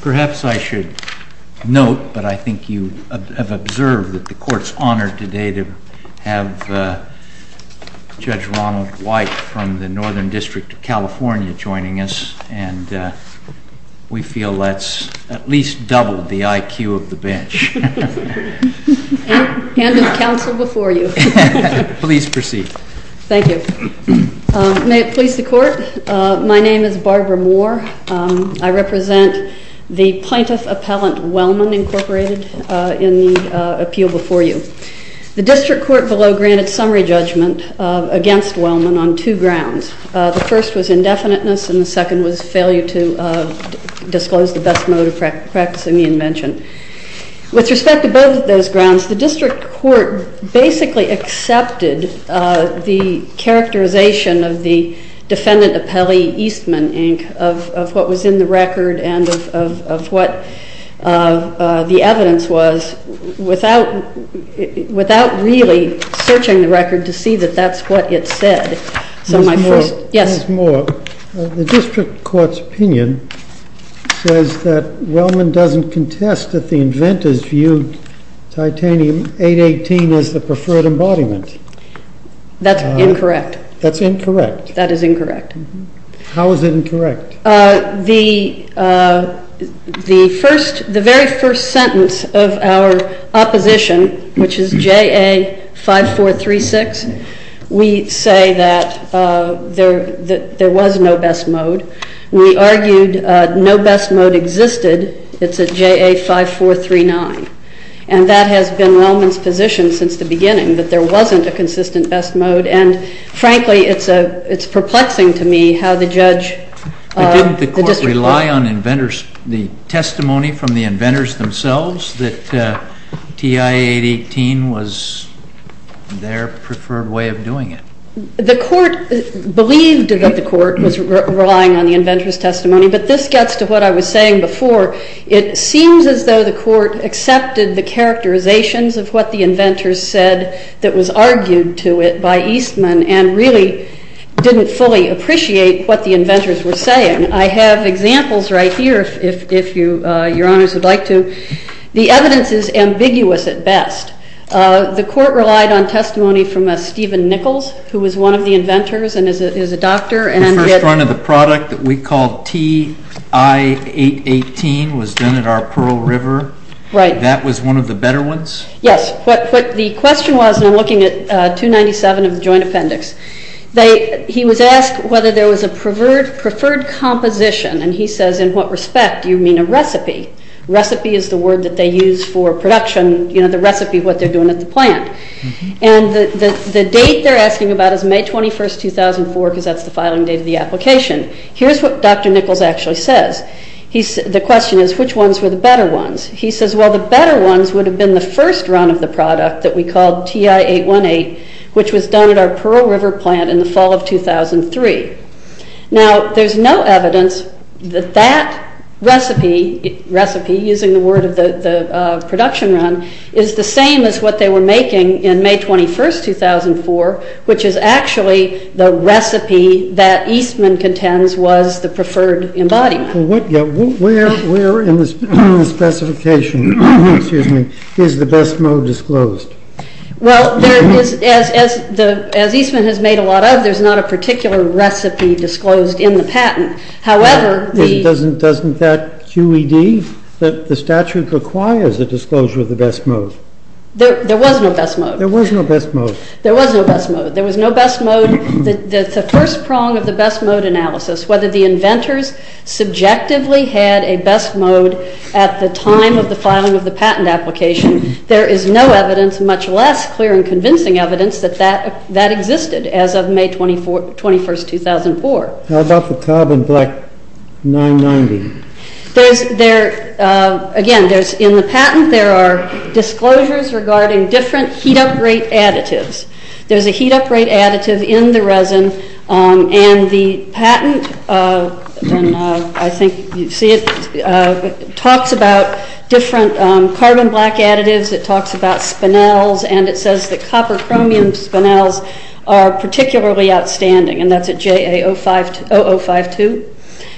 Perhaps I should note, but I think you have observed, that the Court's honored today to have Judge Ronald White from the Northern District of California joining us. And we feel that's at least doubled the IQ of the bench. Hand of counsel before you. Please proceed. Thank you. May it please the Court, my name is Barbara Moore. I represent the plaintiff appellant Wellman Incorporated in the appeal before you. The district court below granted summary judgment against Wellman on two grounds. The first was indefiniteness, and the second was failure to disclose the best mode of practicing the invention. With respect to both of those grounds, the district court basically accepted the characterization of the defendant appellee Eastman Inc., of what was in the record, and of what the evidence was, without really searching the record to see that that's what it said. So my first, yes. The district court's opinion says that Wellman doesn't contest that the inventors viewed titanium 818 as the preferred embodiment. That's incorrect. That's incorrect? That is incorrect. How is it incorrect? The very first sentence of our opposition, which is JA 5436, we say that there was no best mode. We argued no best mode existed. It's a JA 5439. And that has been Wellman's position since the beginning, that there wasn't a consistent best mode. And frankly, it's perplexing to me how the judge, the district But didn't the court rely on the testimony from the inventors themselves, that TI 818 was their preferred way of doing it? The court believed that the court was relying on the inventors' testimony. But this gets to what I was saying before. It seems as though the court accepted the characterizations of what the inventors said that was argued to it by Eastman and really didn't fully appreciate what the inventors were saying. I have examples right here, if your honors would like to. The evidence is ambiguous at best. The court relied on testimony from Stephen Nichols, who was one of the inventors and is a doctor. The first run of the product that we called TI 818 was done at our Pearl River. That was one of the better ones? Yes. The question was, and I'm looking at 297 of the joint appendix. He was asked whether there was a preferred composition. And he says, in what respect do you mean a recipe? Recipe is the word that they use for production, the recipe of what they're doing at the plant. And the date they're asking about is May 21, 2004, because that's the filing date of the application. Here's what Dr. Nichols actually says. The question is, which ones were the better ones? He says, well, the better ones would have been the first run of the product that we called TI 818, which was done at our Pearl River plant in the fall of 2003. Now, there's no evidence that that recipe, using the word of the production run, is the same as what they were making in May 21, 2004, which is actually the recipe that Eastman contends was the preferred embodiment. Where in the specification is the best mode disclosed? Well, as Eastman has made a lot of, there's not a particular recipe disclosed in the patent. However, the- Doesn't that QED, that the statute requires a disclosure of the best mode? There was no best mode. There was no best mode. There was no best mode. There was no best mode. The first prong of the best mode analysis, whether the inventors subjectively had a best mode at the time of the filing of the patent application, there is no evidence, much less clear and convincing evidence, that that existed as of May 21, 2004. How about the carbon black 990? Again, in the patent, there are disclosures regarding different heat upgrade additives. There's a heat upgrade additive in the resin. And the patent, I think you see it, talks about different carbon black additives. It talks about spinels. And it says that copper chromium spinels are particularly outstanding. And that's at JA0052.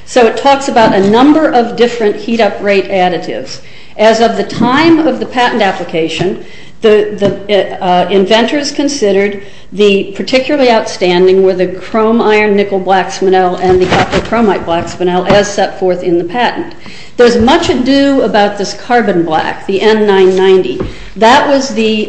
So it talks about a number of different heat upgrade additives. As of the time of the patent application, the inventors considered the particularly outstanding were the chrome iron nickel black spinel and the copper chromite black spinel, as set forth in the patent. There's much ado about this carbon black, the N990. That was the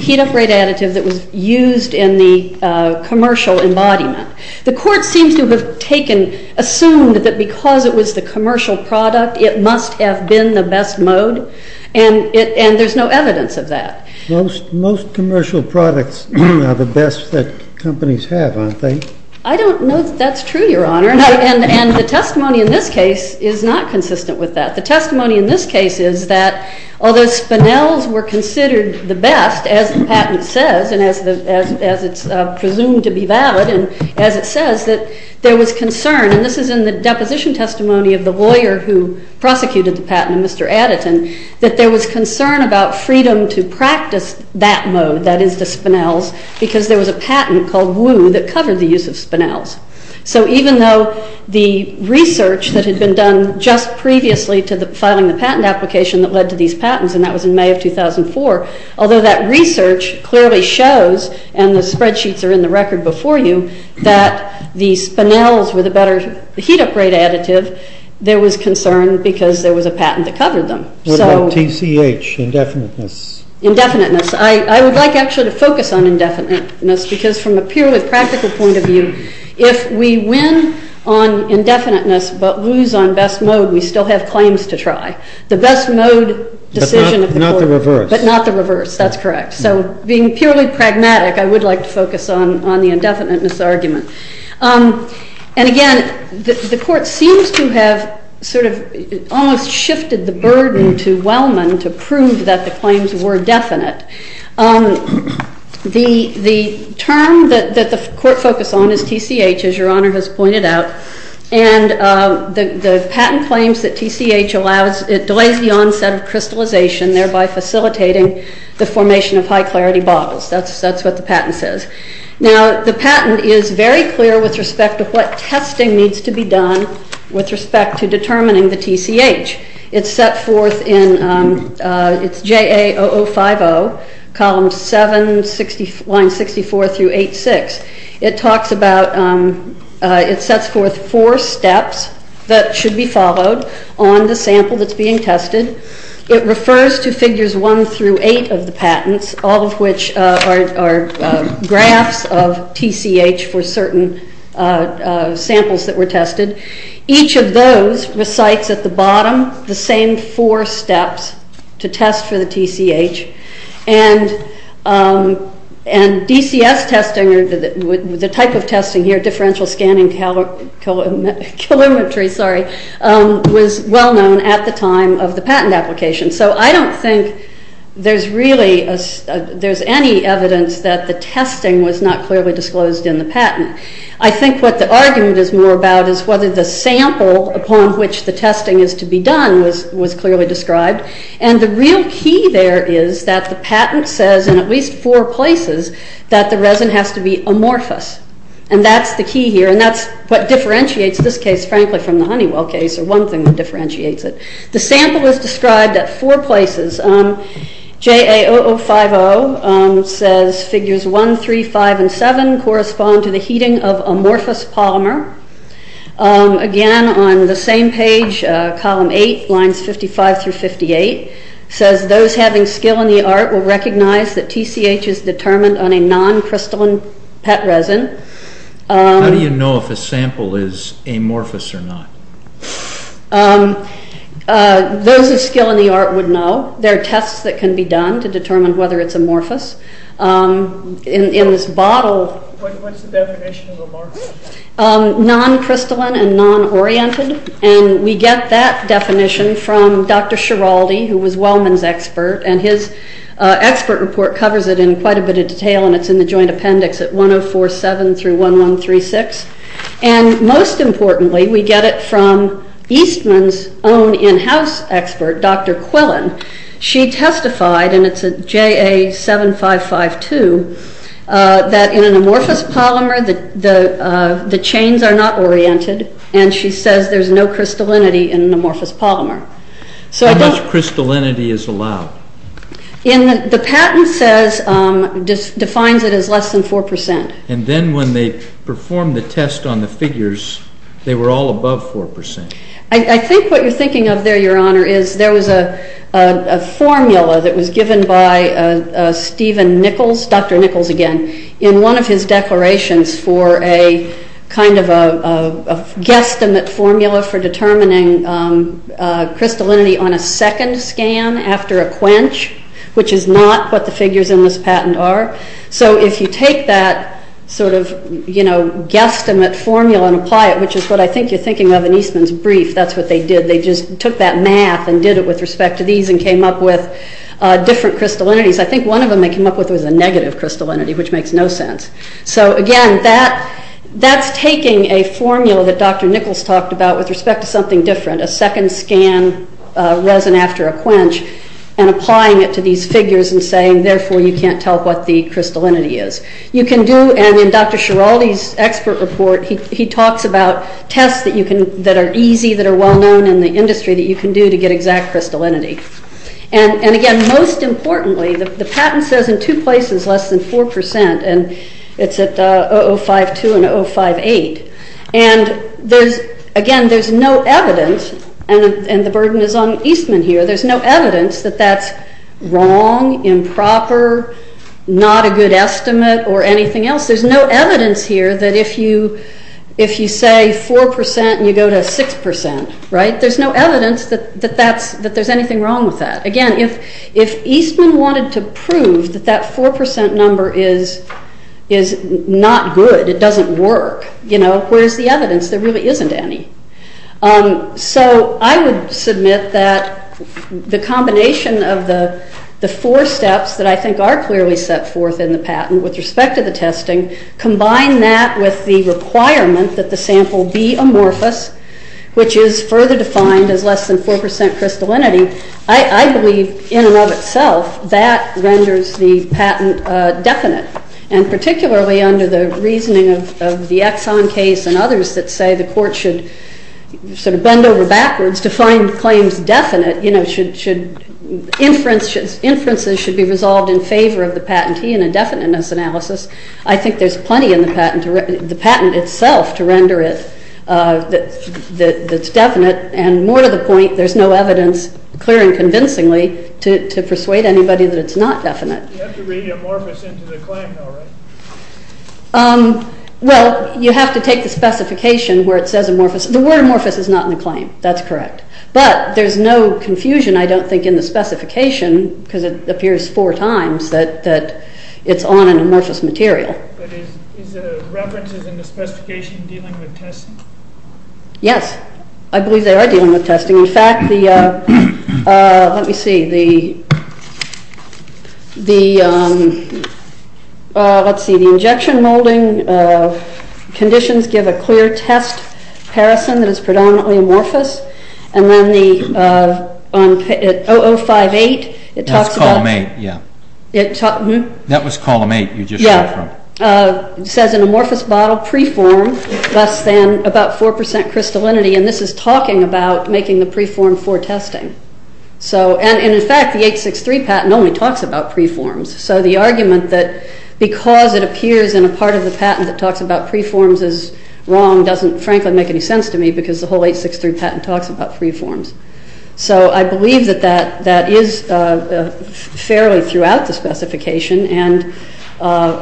heat upgrade additive that was used in the commercial embodiment. The court seems to have assumed that because it was the commercial product, it must have been the best mode. And there's no evidence of that. Most commercial products are the best that companies have, aren't they? I don't know that that's true, Your Honor. And the testimony in this case is not consistent with that. The testimony in this case is that although spinels were considered the best, as the patent says, and as it's presumed to be valid, and as it says, that there was concern. And this is in the deposition testimony of the lawyer who prosecuted the patent, Mr. Addeton, that there was concern about freedom to practice that mode, that is the spinels, because there was a patent called Woo that covered the use of spinels. So even though the research that had been done just previously to filing the patent application that led to these patents, and that was in May of 2004, although that research clearly shows, and the spreadsheets are in the record before you, that the spinels were the better heat upgrade additive, there was concern because there was a patent that covered them. What about TCH, indefiniteness? Indefiniteness. I would like actually to focus on indefiniteness, because from a purely practical point of view, if we win on indefiniteness but lose on best mode, we still have claims to try. The best mode decision of the court. But not the reverse. But not the reverse. That's correct. So being purely pragmatic, I would like to focus on the indefiniteness argument. And again, the court seems to have sort of almost shifted the burden to Wellman to prove that the claims were definite. The term that the court focused on is TCH, as Your Honor has pointed out. And the patent claims that TCH allows, it delays the onset of crystallization, thereby facilitating the formation of high-clarity bottles. That's what the patent says. Now, the patent is very clear with respect to what testing needs to be done with respect to determining the TCH. It's set forth in it's JA 0050, column 7, line 64 through 86. It talks about, it sets forth four steps that should be followed on the sample that's being tested. It refers to figures 1 through 8 of the patents, all of which are graphs of TCH for certain samples that were tested. Each of those recites at the bottom the same four steps to test for the TCH. And DCS testing, or the type of testing here, differential scanning calorimetry, sorry, was well known at the time of the patent application. So I don't think there's really any evidence that the testing was not clearly disclosed in the patent. I think what the argument is more about is whether the sample upon which the testing is to be done was clearly described. And the real key there is that the patent says, in at least four places, that the resin has to be amorphous. And that's the key here. And that's what differentiates this case, frankly, from the Honeywell case, or one thing that differentiates it. The sample is described at four places. JA 0050 says figures 1, 3, 5, and 7 correspond to the heating of amorphous polymer. Again, on the same page, column 8, lines 55 through 58, says those having skill in the art will recognize that TCH is determined on a non-crystalline PET resin. How do you know if a sample is amorphous or not? Those with skill in the art would know. There are tests that can be done to determine whether it's amorphous. In this bottle. What's the definition of amorphous? Non-crystalline and non-oriented. And we get that definition from Dr. Schiraldi, who was Wellman's expert. And his expert report covers it in quite a bit of detail. And it's in the joint appendix at 1047 through 1136. And most importantly, we get it from Eastman's own in-house expert, Dr. Quillen. She testified, and it's a JA 7552, that in an amorphous polymer, the chains are not oriented. And she says there's no crystallinity in an amorphous polymer. How much crystallinity is allowed? The patent defines it as less than 4%. And then when they performed the test on the figures, they were all above 4%. I think what you're thinking of there, Your Honor, is there was a formula that was given by Stephen Nichols, Dr. Nichols again, in one of his declarations for a kind of a guesstimate formula for determining crystallinity on a second scan after a quench, which is not what the figures in this patent are. So if you take that sort of guesstimate formula and apply it, which is what I think you're thinking of in Eastman's brief. That's what they did. They just took that math and did it with respect to these and came up with different crystallinities. I think one of them they came up with was a negative crystallinity, which makes no sense. So again, that's taking a formula that Dr. Nichols talked about with respect to something different, a second scan resin after a quench, and applying it to these figures and saying, therefore, you can't tell what the crystallinity is. You can do, and in Dr. Schiraldi's expert report, he talks about tests that are easy, that are well-known, and the industry that you can do to get exact crystallinity. And again, most importantly, the patent says in two places less than 4%. And it's at 0.052 and 0.058. And again, there's no evidence, and the burden is on Eastman here, there's no evidence that that's wrong, improper, not a good estimate, or anything else. There's no evidence here that if you say 4% and you go to 6%, there's no evidence that there's anything wrong with that. Again, if Eastman wanted to prove that that 4% number is not good, it doesn't work, where's the evidence? There really isn't any. So I would submit that the combination of the four steps that I think are clearly set forth in the patent with respect to the testing, combine that with the requirement that the sample be amorphous, which is further defined as less than 4% crystallinity, I believe in and of itself that renders the patent definite. And particularly under the reasoning of the Exxon case and others that say the court should bend over backwards to find claims definite, inferences should be resolved in favor of the patentee in a definiteness analysis. I think there's plenty in the patent itself to render it that's definite. And more to the point, there's no evidence, clear and convincingly, to persuade anybody that it's not definite. You have to read amorphous into the claim, though, right? Well, you have to take the specification where it says amorphous. The word amorphous is not in the claim, that's correct. But there's no confusion, I don't think, in the specification, because it appears four times that it's on an amorphous material. But is the references in the specification dealing with testing? Yes. I believe they are dealing with testing. In fact, let me see, the injection molding conditions give a clear test parison that is predominantly amorphous. And then the 0058, it talks about. That's called main, yeah. That was column eight you just read from. Yeah. It says an amorphous bottle, preform, less than about 4% crystallinity. And this is talking about making the preform for testing. And in fact, the 863 patent only talks about preforms. So the argument that because it appears in a part of the patent that talks about preforms is wrong doesn't frankly make any sense to me, because the whole 863 patent talks about preforms. So I believe that that is fairly throughout the specification and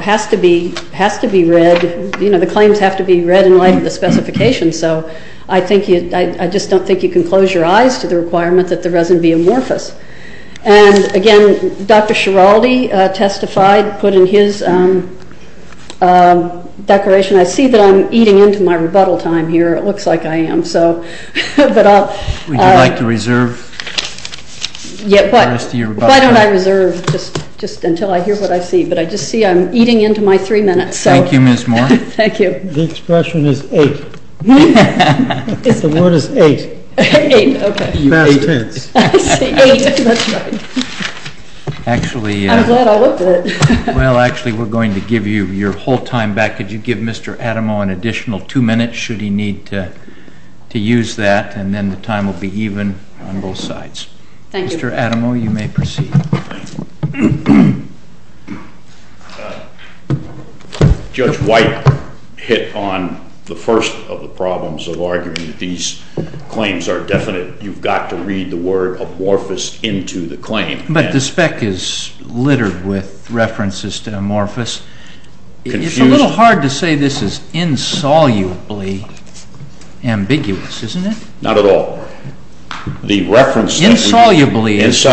has to be read. The claims have to be read in light of the specification. So I just don't think you can close your eyes to the requirement that the resin be amorphous. And again, Dr. Schiraldi testified, put in his declaration. I see that I'm eating into my rebuttal time here. It looks like I am. Would you like to reserve the rest of your rebuttal time? Why don't I reserve just until I hear what I see? But I just see I'm eating into my three minutes. Thank you, Ms. Moore. Thank you. The expression is ape. The word is ape. Ape, OK. Past tense. I see, ape, that's right. Actually, we're going to give you your whole time back. Could you give Mr. Adamo an additional two minutes, should he need to use that? And then the time will be even on both sides. Thank you. Mr. Adamo, you may proceed. Judge White hit on the first of the problems of arguing that these claims are definite. You've got to read the word amorphous into the claim. But the spec is littered with references to amorphous. It's a little hard to say this is insolubly ambiguous, isn't it? Not at all. The reference that we use,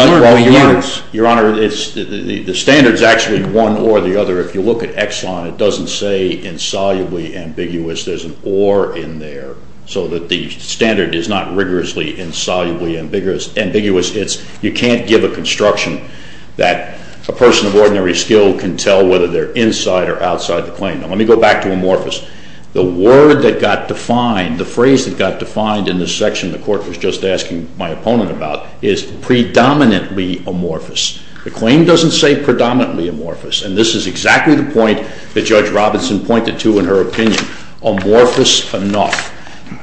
the standard's actually one or the other. If you look at Exxon, it doesn't say insolubly ambiguous. There's an or in there. So that the standard is not rigorously, insolubly ambiguous. You can't give a construction that a person of ordinary skill can tell whether they're inside or outside the claim. Now, let me go back to amorphous. The word that got defined, the phrase that got defined in this section the Court was just asking my opponent about, is predominantly amorphous. The claim doesn't say predominantly amorphous. And this is exactly the point that Judge Robinson pointed to in her opinion, amorphous enough.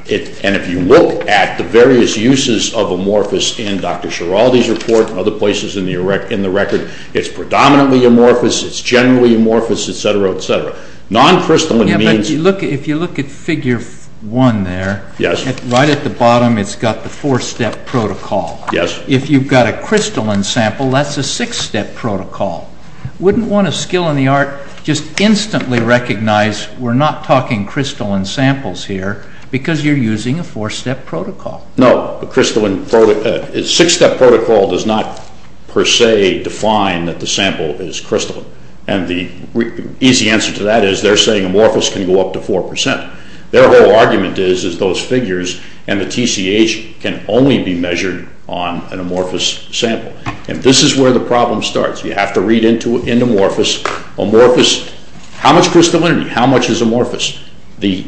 And if you look at the various uses of amorphous in Dr. Sheraldi's report and other places in the record, it's predominantly amorphous, it's generally amorphous, et cetera, et cetera. Non-crystalline means. If you look at figure one there, right at the bottom it's got the four-step protocol. If you've got a crystalline sample, that's a six-step protocol. Wouldn't want a skill in the art just instantly recognize, we're not talking crystalline samples here, because you're using a four-step protocol. No, a six-step protocol does not, per se, define that the sample is crystalline. And the easy answer to that is, they're saying amorphous can go up to 4%. Their whole argument is, is those figures and the TCH can only be measured on an amorphous sample. And this is where the problem starts. You have to read into amorphous, amorphous, how much crystallinity? How much is amorphous? The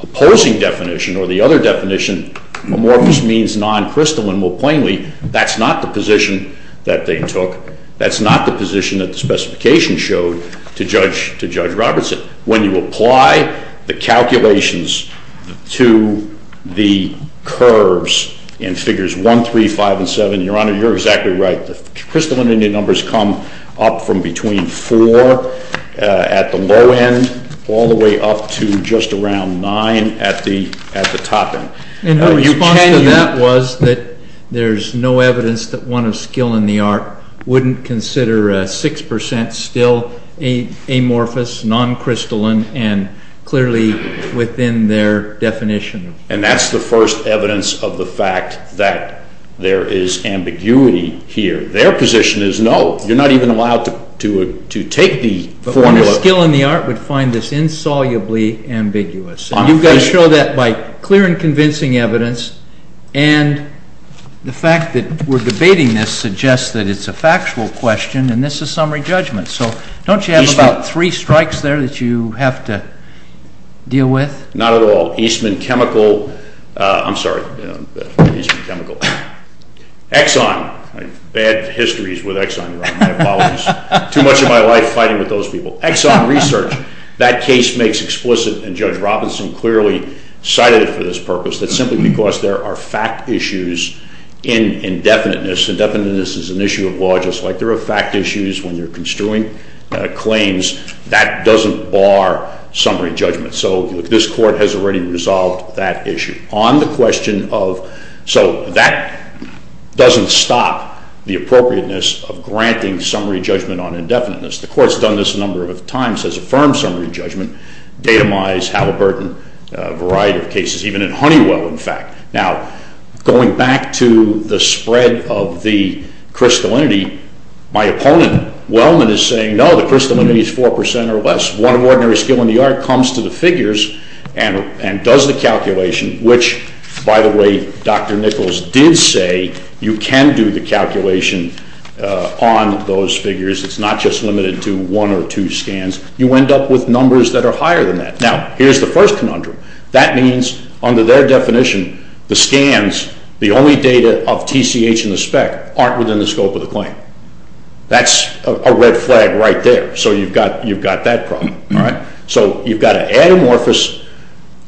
opposing definition, or the other definition, amorphous means non-crystalline. More plainly, that's not the position that they took. That's not the position that the specification showed to Judge Robertson. When you apply the calculations to the curves in figures 1, 3, 5, and 7, Your Honor, you're exactly right. The crystallinity numbers come up from between 4 at the low end, all the way up to just around 9 at the top end. And the response to that was that there's no evidence that one of skill in the art wouldn't consider 6% still amorphous, non-crystalline, and clearly within their definition. And that's the first evidence of the fact that there is ambiguity here. Their position is, no, you're not even allowed to take the formula. But one of skill in the art would find this insolubly ambiguous. You've got to show that by clear and convincing evidence. And the fact that we're debating this suggests that it's a factual question, and this is summary judgment. So don't you have about three strikes there that you have to deal with? Not at all. Eastman Chemical, I'm sorry, Eastman Chemical. Exxon, bad histories with Exxon, Your Honor, my apologies. Too much of my life fighting with those people. Exxon Research, that case makes explicit, and Judge Robinson clearly cited it for this purpose, that simply because there are fact issues in indefiniteness. Indefiniteness is an issue of law, just like there are fact issues when you're construing claims. That doesn't bar summary judgment. So this court has already resolved that issue. On the question of, so that doesn't stop the appropriateness of granting summary judgment on indefiniteness. The court's done this a number of times has affirmed summary judgment. Datomize, Halliburton, a variety of cases, even in Honeywell, in fact. Now, going back to the spread of the crystallinity, my opponent, Wellman, is saying, no, the crystallinity is 4% or less. One ordinary skill in the art comes to the figures and does the calculation, which, by the way, Dr. Nichols did say you can do the calculation on those figures. It's not just limited to one or two scans. You end up with numbers that are higher than that. Now, here's the first conundrum. That means, under their definition, the scans, the only data of TCH and the spec aren't within the scope of the claim. That's a red flag right there. So you've got that problem. So you've got to add amorphous.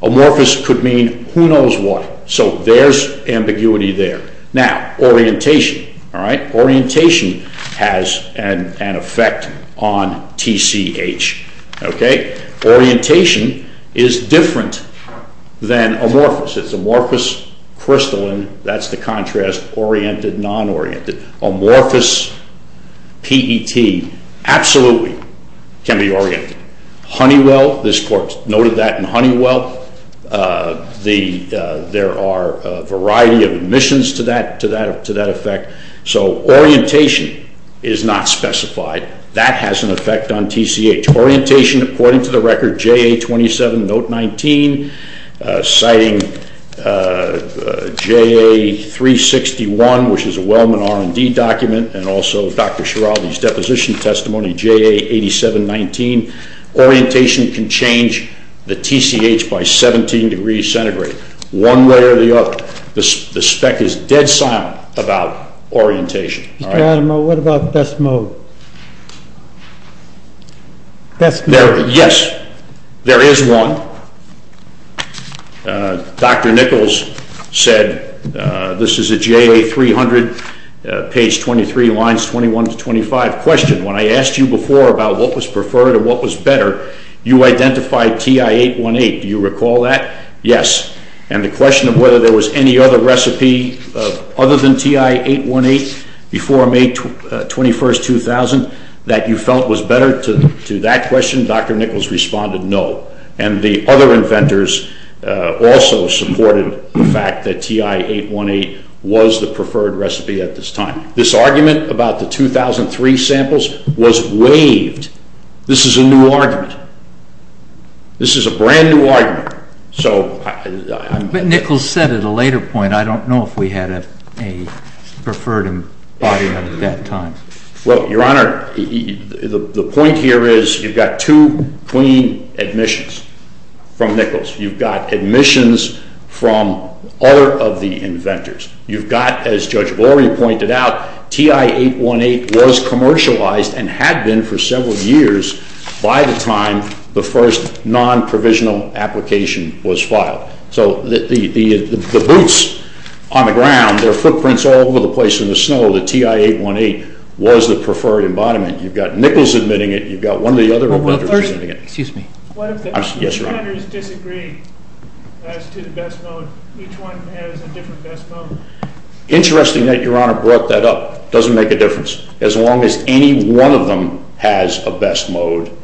Amorphous could mean who knows what. So there's ambiguity there. Now, orientation. Orientation has an effect on TCH. Orientation is different than amorphous. It's amorphous crystalline. That's the contrast, oriented, non-oriented. Amorphous PET absolutely can be oriented. Honeywell, this court noted that in Honeywell. There are a variety of emissions to that effect. So orientation is not specified. That has an effect on TCH. Orientation, according to the record, JA27 note 19, citing JA361, which is a Wellman R&D document, and also Dr. Schiraldi's deposition testimony, JA8719. Orientation can change the TCH by 17 degrees centigrade. One way or the other, the spec is dead silent about orientation. Mr. Adamo, what about best mode? Yes, there is one. Dr. Nichols said, this is a JA300, page 23, lines 21 to 25. Question. When I asked you before about what was preferred and what was better, you identified TI818. Do you recall that? Yes. And the question of whether there was any other recipe other than TI818 before May 21, 2000 that you felt was better to that question, Dr. Nichols responded no. And the other inventors also supported the fact that TI818 was the preferred recipe at this time. This argument about the 2003 samples was waived. This is a new argument. This is a brand new argument. But Nichols said at a later point, I don't know if we had a preferred body at that time. Well, Your Honor, the point here is you've got two clean admissions from Nichols. You've got admissions from other of the inventors. You've got, as Judge Laurie pointed out, TI818 was commercialized and had been for several years by the time the first non-provisional application was filed. So the boots on the ground, their footprints all over the place in the snow, the TI818 was the preferred embodiment. You've got Nichols admitting it. You've got one of the other inventors admitting it. Excuse me. What if the inventors disagree as to the best mode? Each one has a different best mode. Interesting that Your Honor brought that up. Doesn't make a difference. As long as any one of them has a best mode,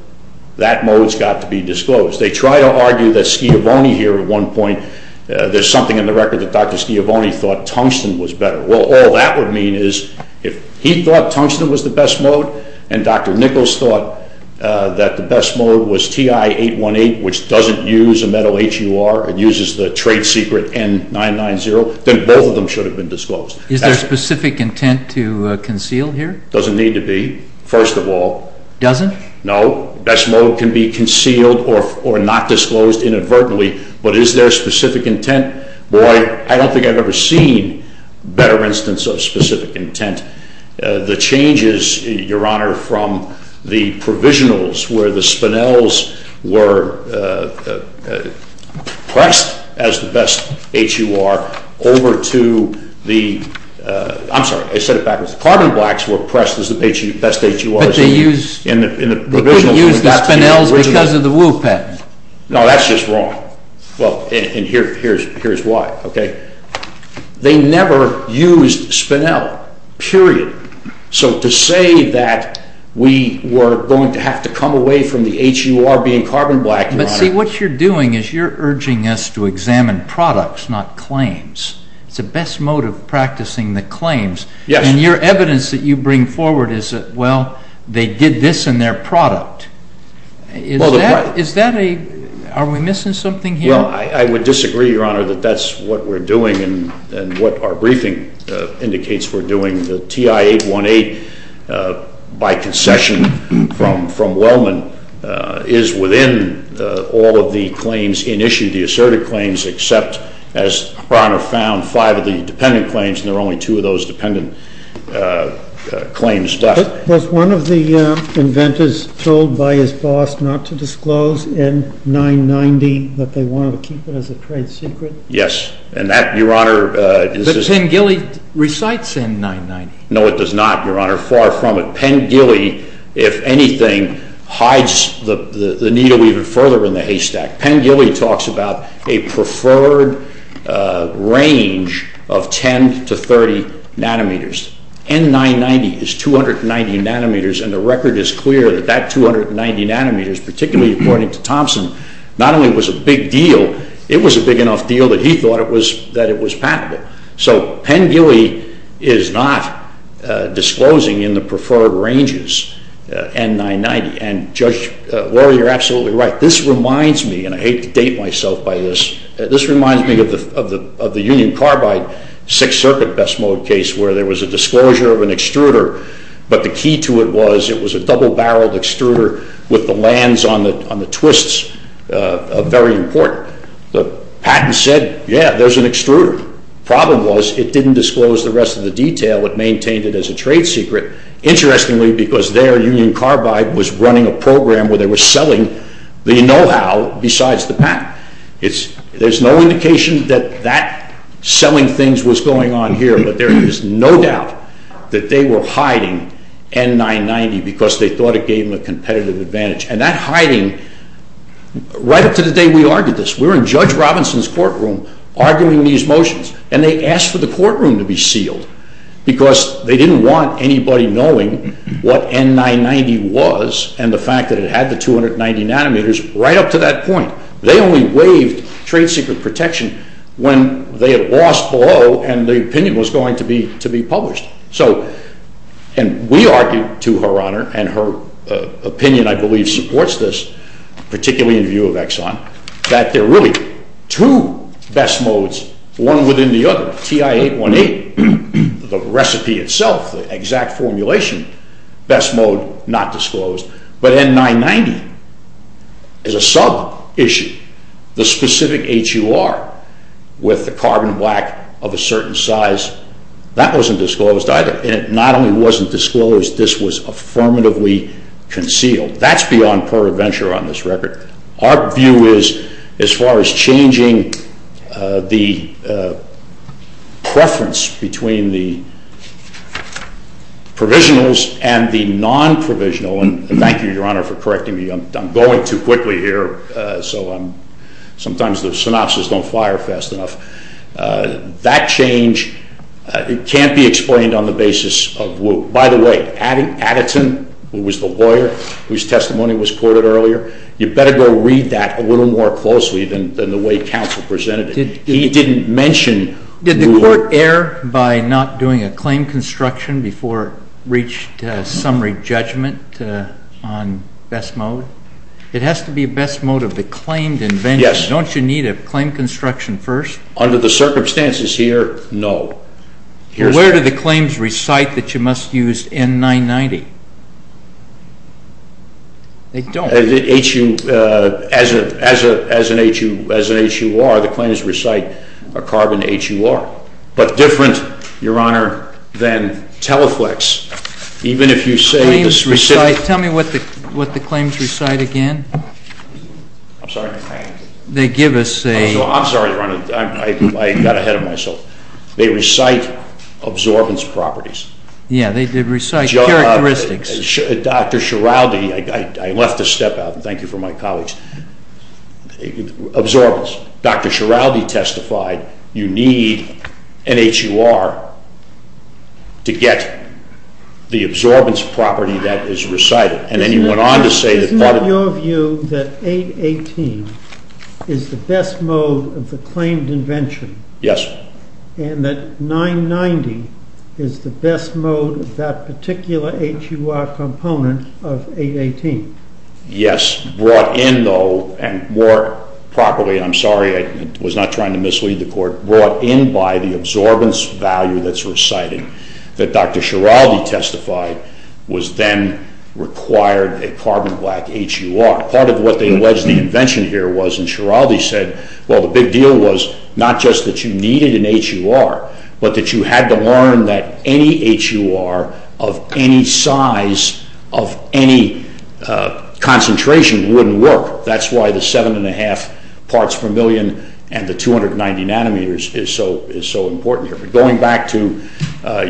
that mode's got to be disclosed. They try to argue that Schiavone here at one point, there's something in the record that Dr. Schiavone thought Tungsten was better. Well, all that would mean is if he thought Tungsten was the best mode and Dr. Nichols thought that the best mode was TI818, which doesn't use a metal HUR and uses the trade secret N990, then both of them should have been disclosed. Is there specific intent to conceal here? Doesn't need to be, first of all. Doesn't? No. Best mode can be concealed or not disclosed inadvertently. But is there specific intent? Boy, I don't think I've ever seen better instance of specific intent. The changes, Your Honor, from the provisionals where the spinels were pressed as the best HUR over to the, I'm sorry, I said it backwards. Carbon blacks were pressed as the best HURs in the provisional. But they didn't use the spinels because of the WU patent. No, that's just wrong. Well, and here's why, OK? They never used spinel, period. So to say that we were going to have to come away from the HUR being carbon black, Your Honor. But see, what you're doing is you're urging us to examine products, not claims. It's the best mode of practicing the claims. And your evidence that you bring forward is that, well, they did this in their product. Are we missing something here? Well, I would disagree, Your Honor, that that's what we're doing and what our briefing indicates we're doing. The TI-818, by concession from Wellman, is within all of the claims in issue, the asserted claims, except, as Your Honor found, five of the dependent claims. And there are only two of those dependent claims left. Was one of the inventors told by his boss not to disclose N-990, that they wanted to keep it as a trade secret? Yes. And that, Your Honor, is just Penn Gilly recites N-990. No, it does not, Your Honor. Far from it. Penn Gilly, if anything, hides the needle even further in the haystack. Penn Gilly talks about a preferred range of 10 to 30 nanometers. N-990 is 290 nanometers. And the record is clear that that 290 nanometers, particularly according to Thompson, not only was a big deal, it was a big enough deal that he thought it was patentable. So Penn Gilly is not disclosing in the preferred ranges N-990. And, Judge, well, you're absolutely right. This reminds me, and I hate to date myself by this, this reminds me of the Union Carbide Sixth Circuit best mode case, where there was a disclosure of an extruder, but the key to it was it was a double-barreled extruder with the lands on the twists of very important. The patent said, yeah, there's an extruder. Problem was, it didn't disclose the rest of the detail. It maintained it as a trade secret. Interestingly, because there, Union Carbide was running a program where they were selling the know-how besides the patent. There's no indication that that selling things was going on here, but there is no doubt that they were hiding N-990 because they thought it gave them a competitive advantage. And that hiding, right up to the day we argued this, we were in Judge Robinson's courtroom arguing these motions. And they asked for the courtroom to be sealed because they didn't want anybody knowing what N-990 was and the fact that it had the 290 nanometers right up to that point. They only waived trade secret protection when they had lost below and the opinion was going to be published. So we argued to Her Honor, and her opinion, I believe, supports this, particularly in view of Exxon, that there are really two best modes, one within the other. TI-818, the recipe itself, the exact formulation, best mode, not disclosed. But N-990 is a sub-issue. The specific HUR with the carbon black of a certain size, that wasn't disclosed either. And it not only wasn't disclosed, this was affirmatively concealed. That's beyond peradventure on this record. Our view is, as far as changing the preference between the provisionals and the non-provisional, and thank you, Your Honor, for correcting me. I'm going too quickly here. So sometimes the synopsis don't fire fast enough. That change, it can't be explained on the basis of woe. By the way, Addison, who was the lawyer whose testimony was I had to go read that a little more closely than the way counsel presented it. He didn't mention woe. Did the court err by not doing a claim construction before it reached a summary judgment on best mode? It has to be a best mode of the claimed invention. Don't you need a claim construction first? Under the circumstances here, no. Where do the claims recite that you must use N-990? They don't. As an HUR, the claims recite a carbon HUR. But different, Your Honor, than Teleflex, even if you say the specific. Tell me what the claims recite again. I'm sorry? They give us a. I'm sorry, Your Honor. I got ahead of myself. They recite absorbance properties. Yeah, they recite characteristics. Dr. Schiraldi, I left a step out. Thank you for my colleagues. Absorbance. Dr. Schiraldi testified you need an HUR to get the absorbance property that is recited. And then he went on to say that part of it. Isn't it your view that 818 is the best mode of the claimed invention? Yes. And that 990 is the best mode of that particular HUR component of 818? Yes. Brought in, though, and more properly, I'm sorry I was not trying to mislead the court, brought in by the absorbance value that's reciting, that Dr. Schiraldi testified was then required a carbon black HUR. Part of what they alleged the invention here was, and Schiraldi said, well, the big deal was not just that you needed an HUR, but that you had to learn that any HUR of any size, of any concentration, wouldn't work. That's why the 7 and 1 half parts per million and the 290 nanometers is so important here. But going back to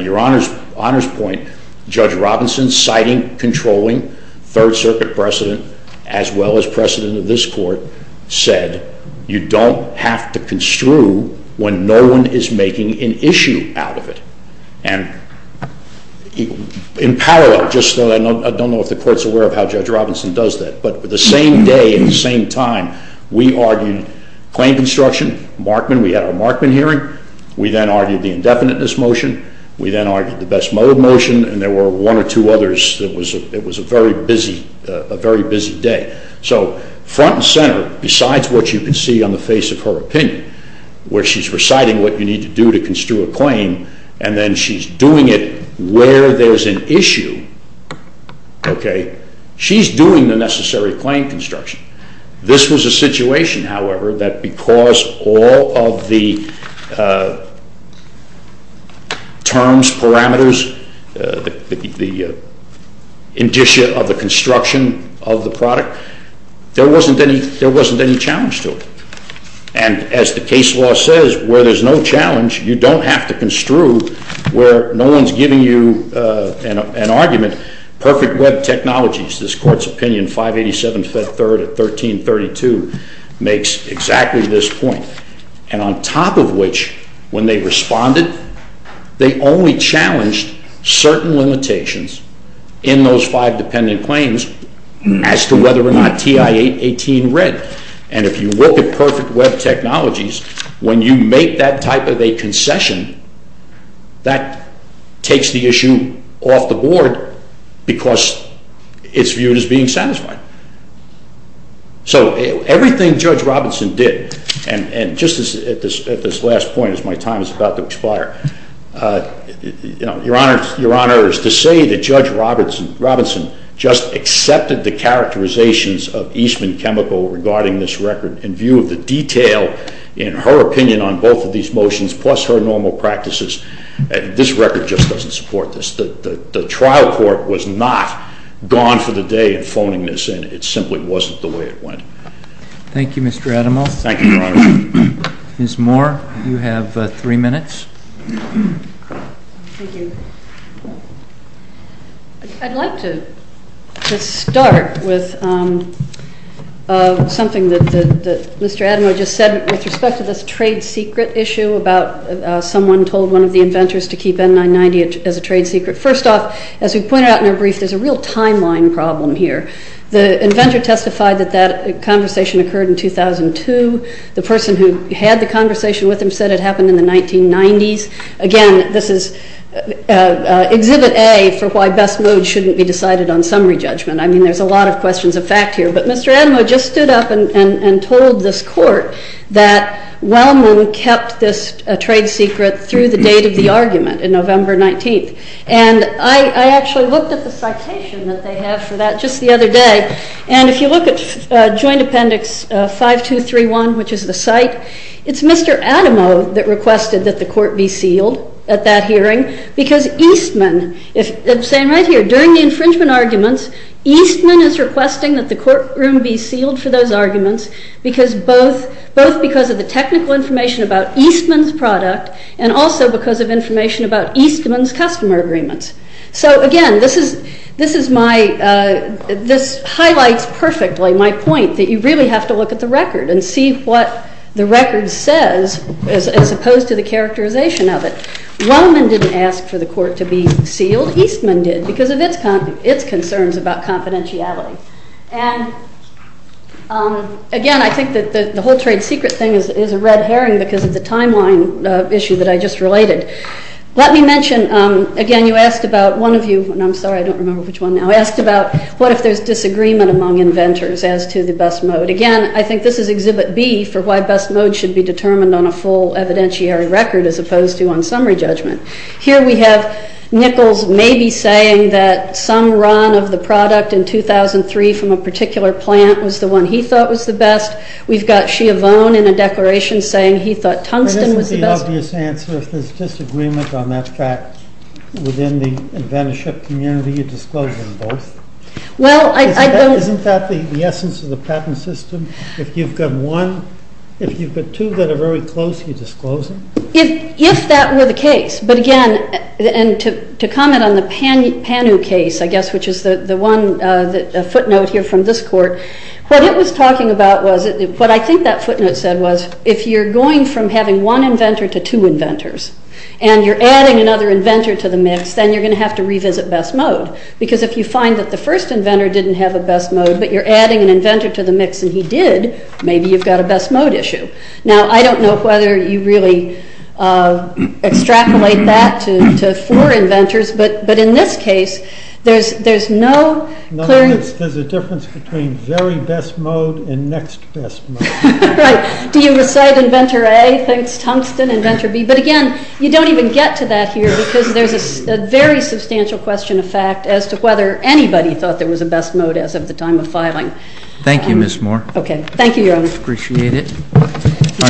your honor's point, Judge Robinson, citing, controlling, Third Circuit precedent, as well as precedent of this court, said you don't have to construe when no one is making an issue out of it. And in parallel, just so I don't know if the court's aware of how Judge Robinson does that, but the same day, at the same time, we argued claim construction, Markman, we had our Markman hearing. We then argued the indefiniteness motion. We then argued the best mode motion. And there were one or two others that was a very busy day. So front and center, besides what you can see on the face of her opinion, where she's reciting what you need to do to construe a claim, and then she's doing it where there's an issue, she's doing the necessary claim construction. This was a situation, however, that because all of the terms, parameters, the indicia of the construction of the product, there wasn't any challenge to it. And as the case law says, where there's no challenge, you don't have to construe where no one's giving you an argument. Perfect web technologies, this court's opinion, 587 Fed 3rd at 1332, makes exactly this point. And on top of which, when they responded, they only challenged certain limitations in those five dependent claims as to whether or not TI-18 read. And if you look at perfect web technologies, when you make that type of a concession, that takes the issue off the board because it's viewed as being satisfying. So everything Judge Robinson did, and just at this last point as my time is about to expire, Your Honor, is to say that Judge Robinson just accepted the characterizations of Eastman Chemical regarding this record in view of the detail in her opinion on both of these motions, plus her normal practices, this record just doesn't support this. The trial court was not gone for the day in phoning this in. It simply wasn't the way it went. Thank you, Mr. Adamo. Thank you, Your Honor. Ms. Moore, you have three minutes. Thank you. I'd like to start with something that Mr. Adamo just said with respect to this trade secret issue about someone told one of the inventors to keep N-990 as a trade secret. First off, as we pointed out in our brief, there's a real timeline problem here. The inventor testified that that conversation occurred in 2002. The person who had the conversation with him said it happened in the 1990s. Again, this is exhibit A for why best modes shouldn't be decided on summary judgment. I mean, there's a lot of questions of fact here. But Mr. Adamo just stood up and told this court that Wellman kept this trade secret through the date of the argument in November 19th. And I actually looked at the citation that they have for that just the other day. And if you look at Joint Appendix 5231, which is the site, it's Mr. Adamo that requested that the court be sealed at that hearing. Because Eastman, I'm saying right here, during the infringement arguments, Eastman is requesting that the courtroom be sealed for those arguments, both because of the technical information about Eastman's product and also because of information about Eastman's customer agreements. So again, this highlights perfectly my point that you really have to look at the record and see what the record says as opposed to the characterization of it. Wellman didn't ask for the court to be sealed. Eastman did because of its concerns about confidentiality. And again, I think that the whole trade secret thing is a red herring because of the timeline issue that I just related. Let me mention, again, you asked about one of you, and I'm sorry, I don't remember which one now, asked about what if there's disagreement among inventors as to the best mode. Again, I think this is Exhibit B for why best mode should be determined on a full evidentiary record as opposed to on summary judgment. Here we have Nichols maybe saying that some run of the product in 2003 from a particular plant was the one he thought was the best. We've got Schiavone in a declaration saying he thought Tungsten was the best. I don't know if that's an obvious answer. If there's disagreement on that fact within the inventorship community, you disclose them both. Well, I don't. Isn't that the essence of the patent system? If you've got one, if you've got two that are very close, you disclose them? If that were the case. But again, and to comment on the Panu case, I guess, which is the one footnote here from this court, what it was talking about was, what I think that footnote said was, if you're going from having one inventor to two inventors, and you're adding another inventor to the mix, then you're going to have to revisit best mode. Because if you find that the first inventor didn't have a best mode, but you're adding an inventor to the mix and he did, maybe you've got a best mode issue. Now, I don't know whether you really extrapolate that to four inventors. But in this case, there's no clear. There's a difference between very best mode and next best mode. Right. Do you recite inventor A thinks Tungsten, inventor B? But again, you don't even get to that here, because there's a very substantial question of fact as to whether anybody thought there was a best mode as of the time of filing. Thank you, Ms. Moore. OK. Thank you, Your Honor. Appreciate it.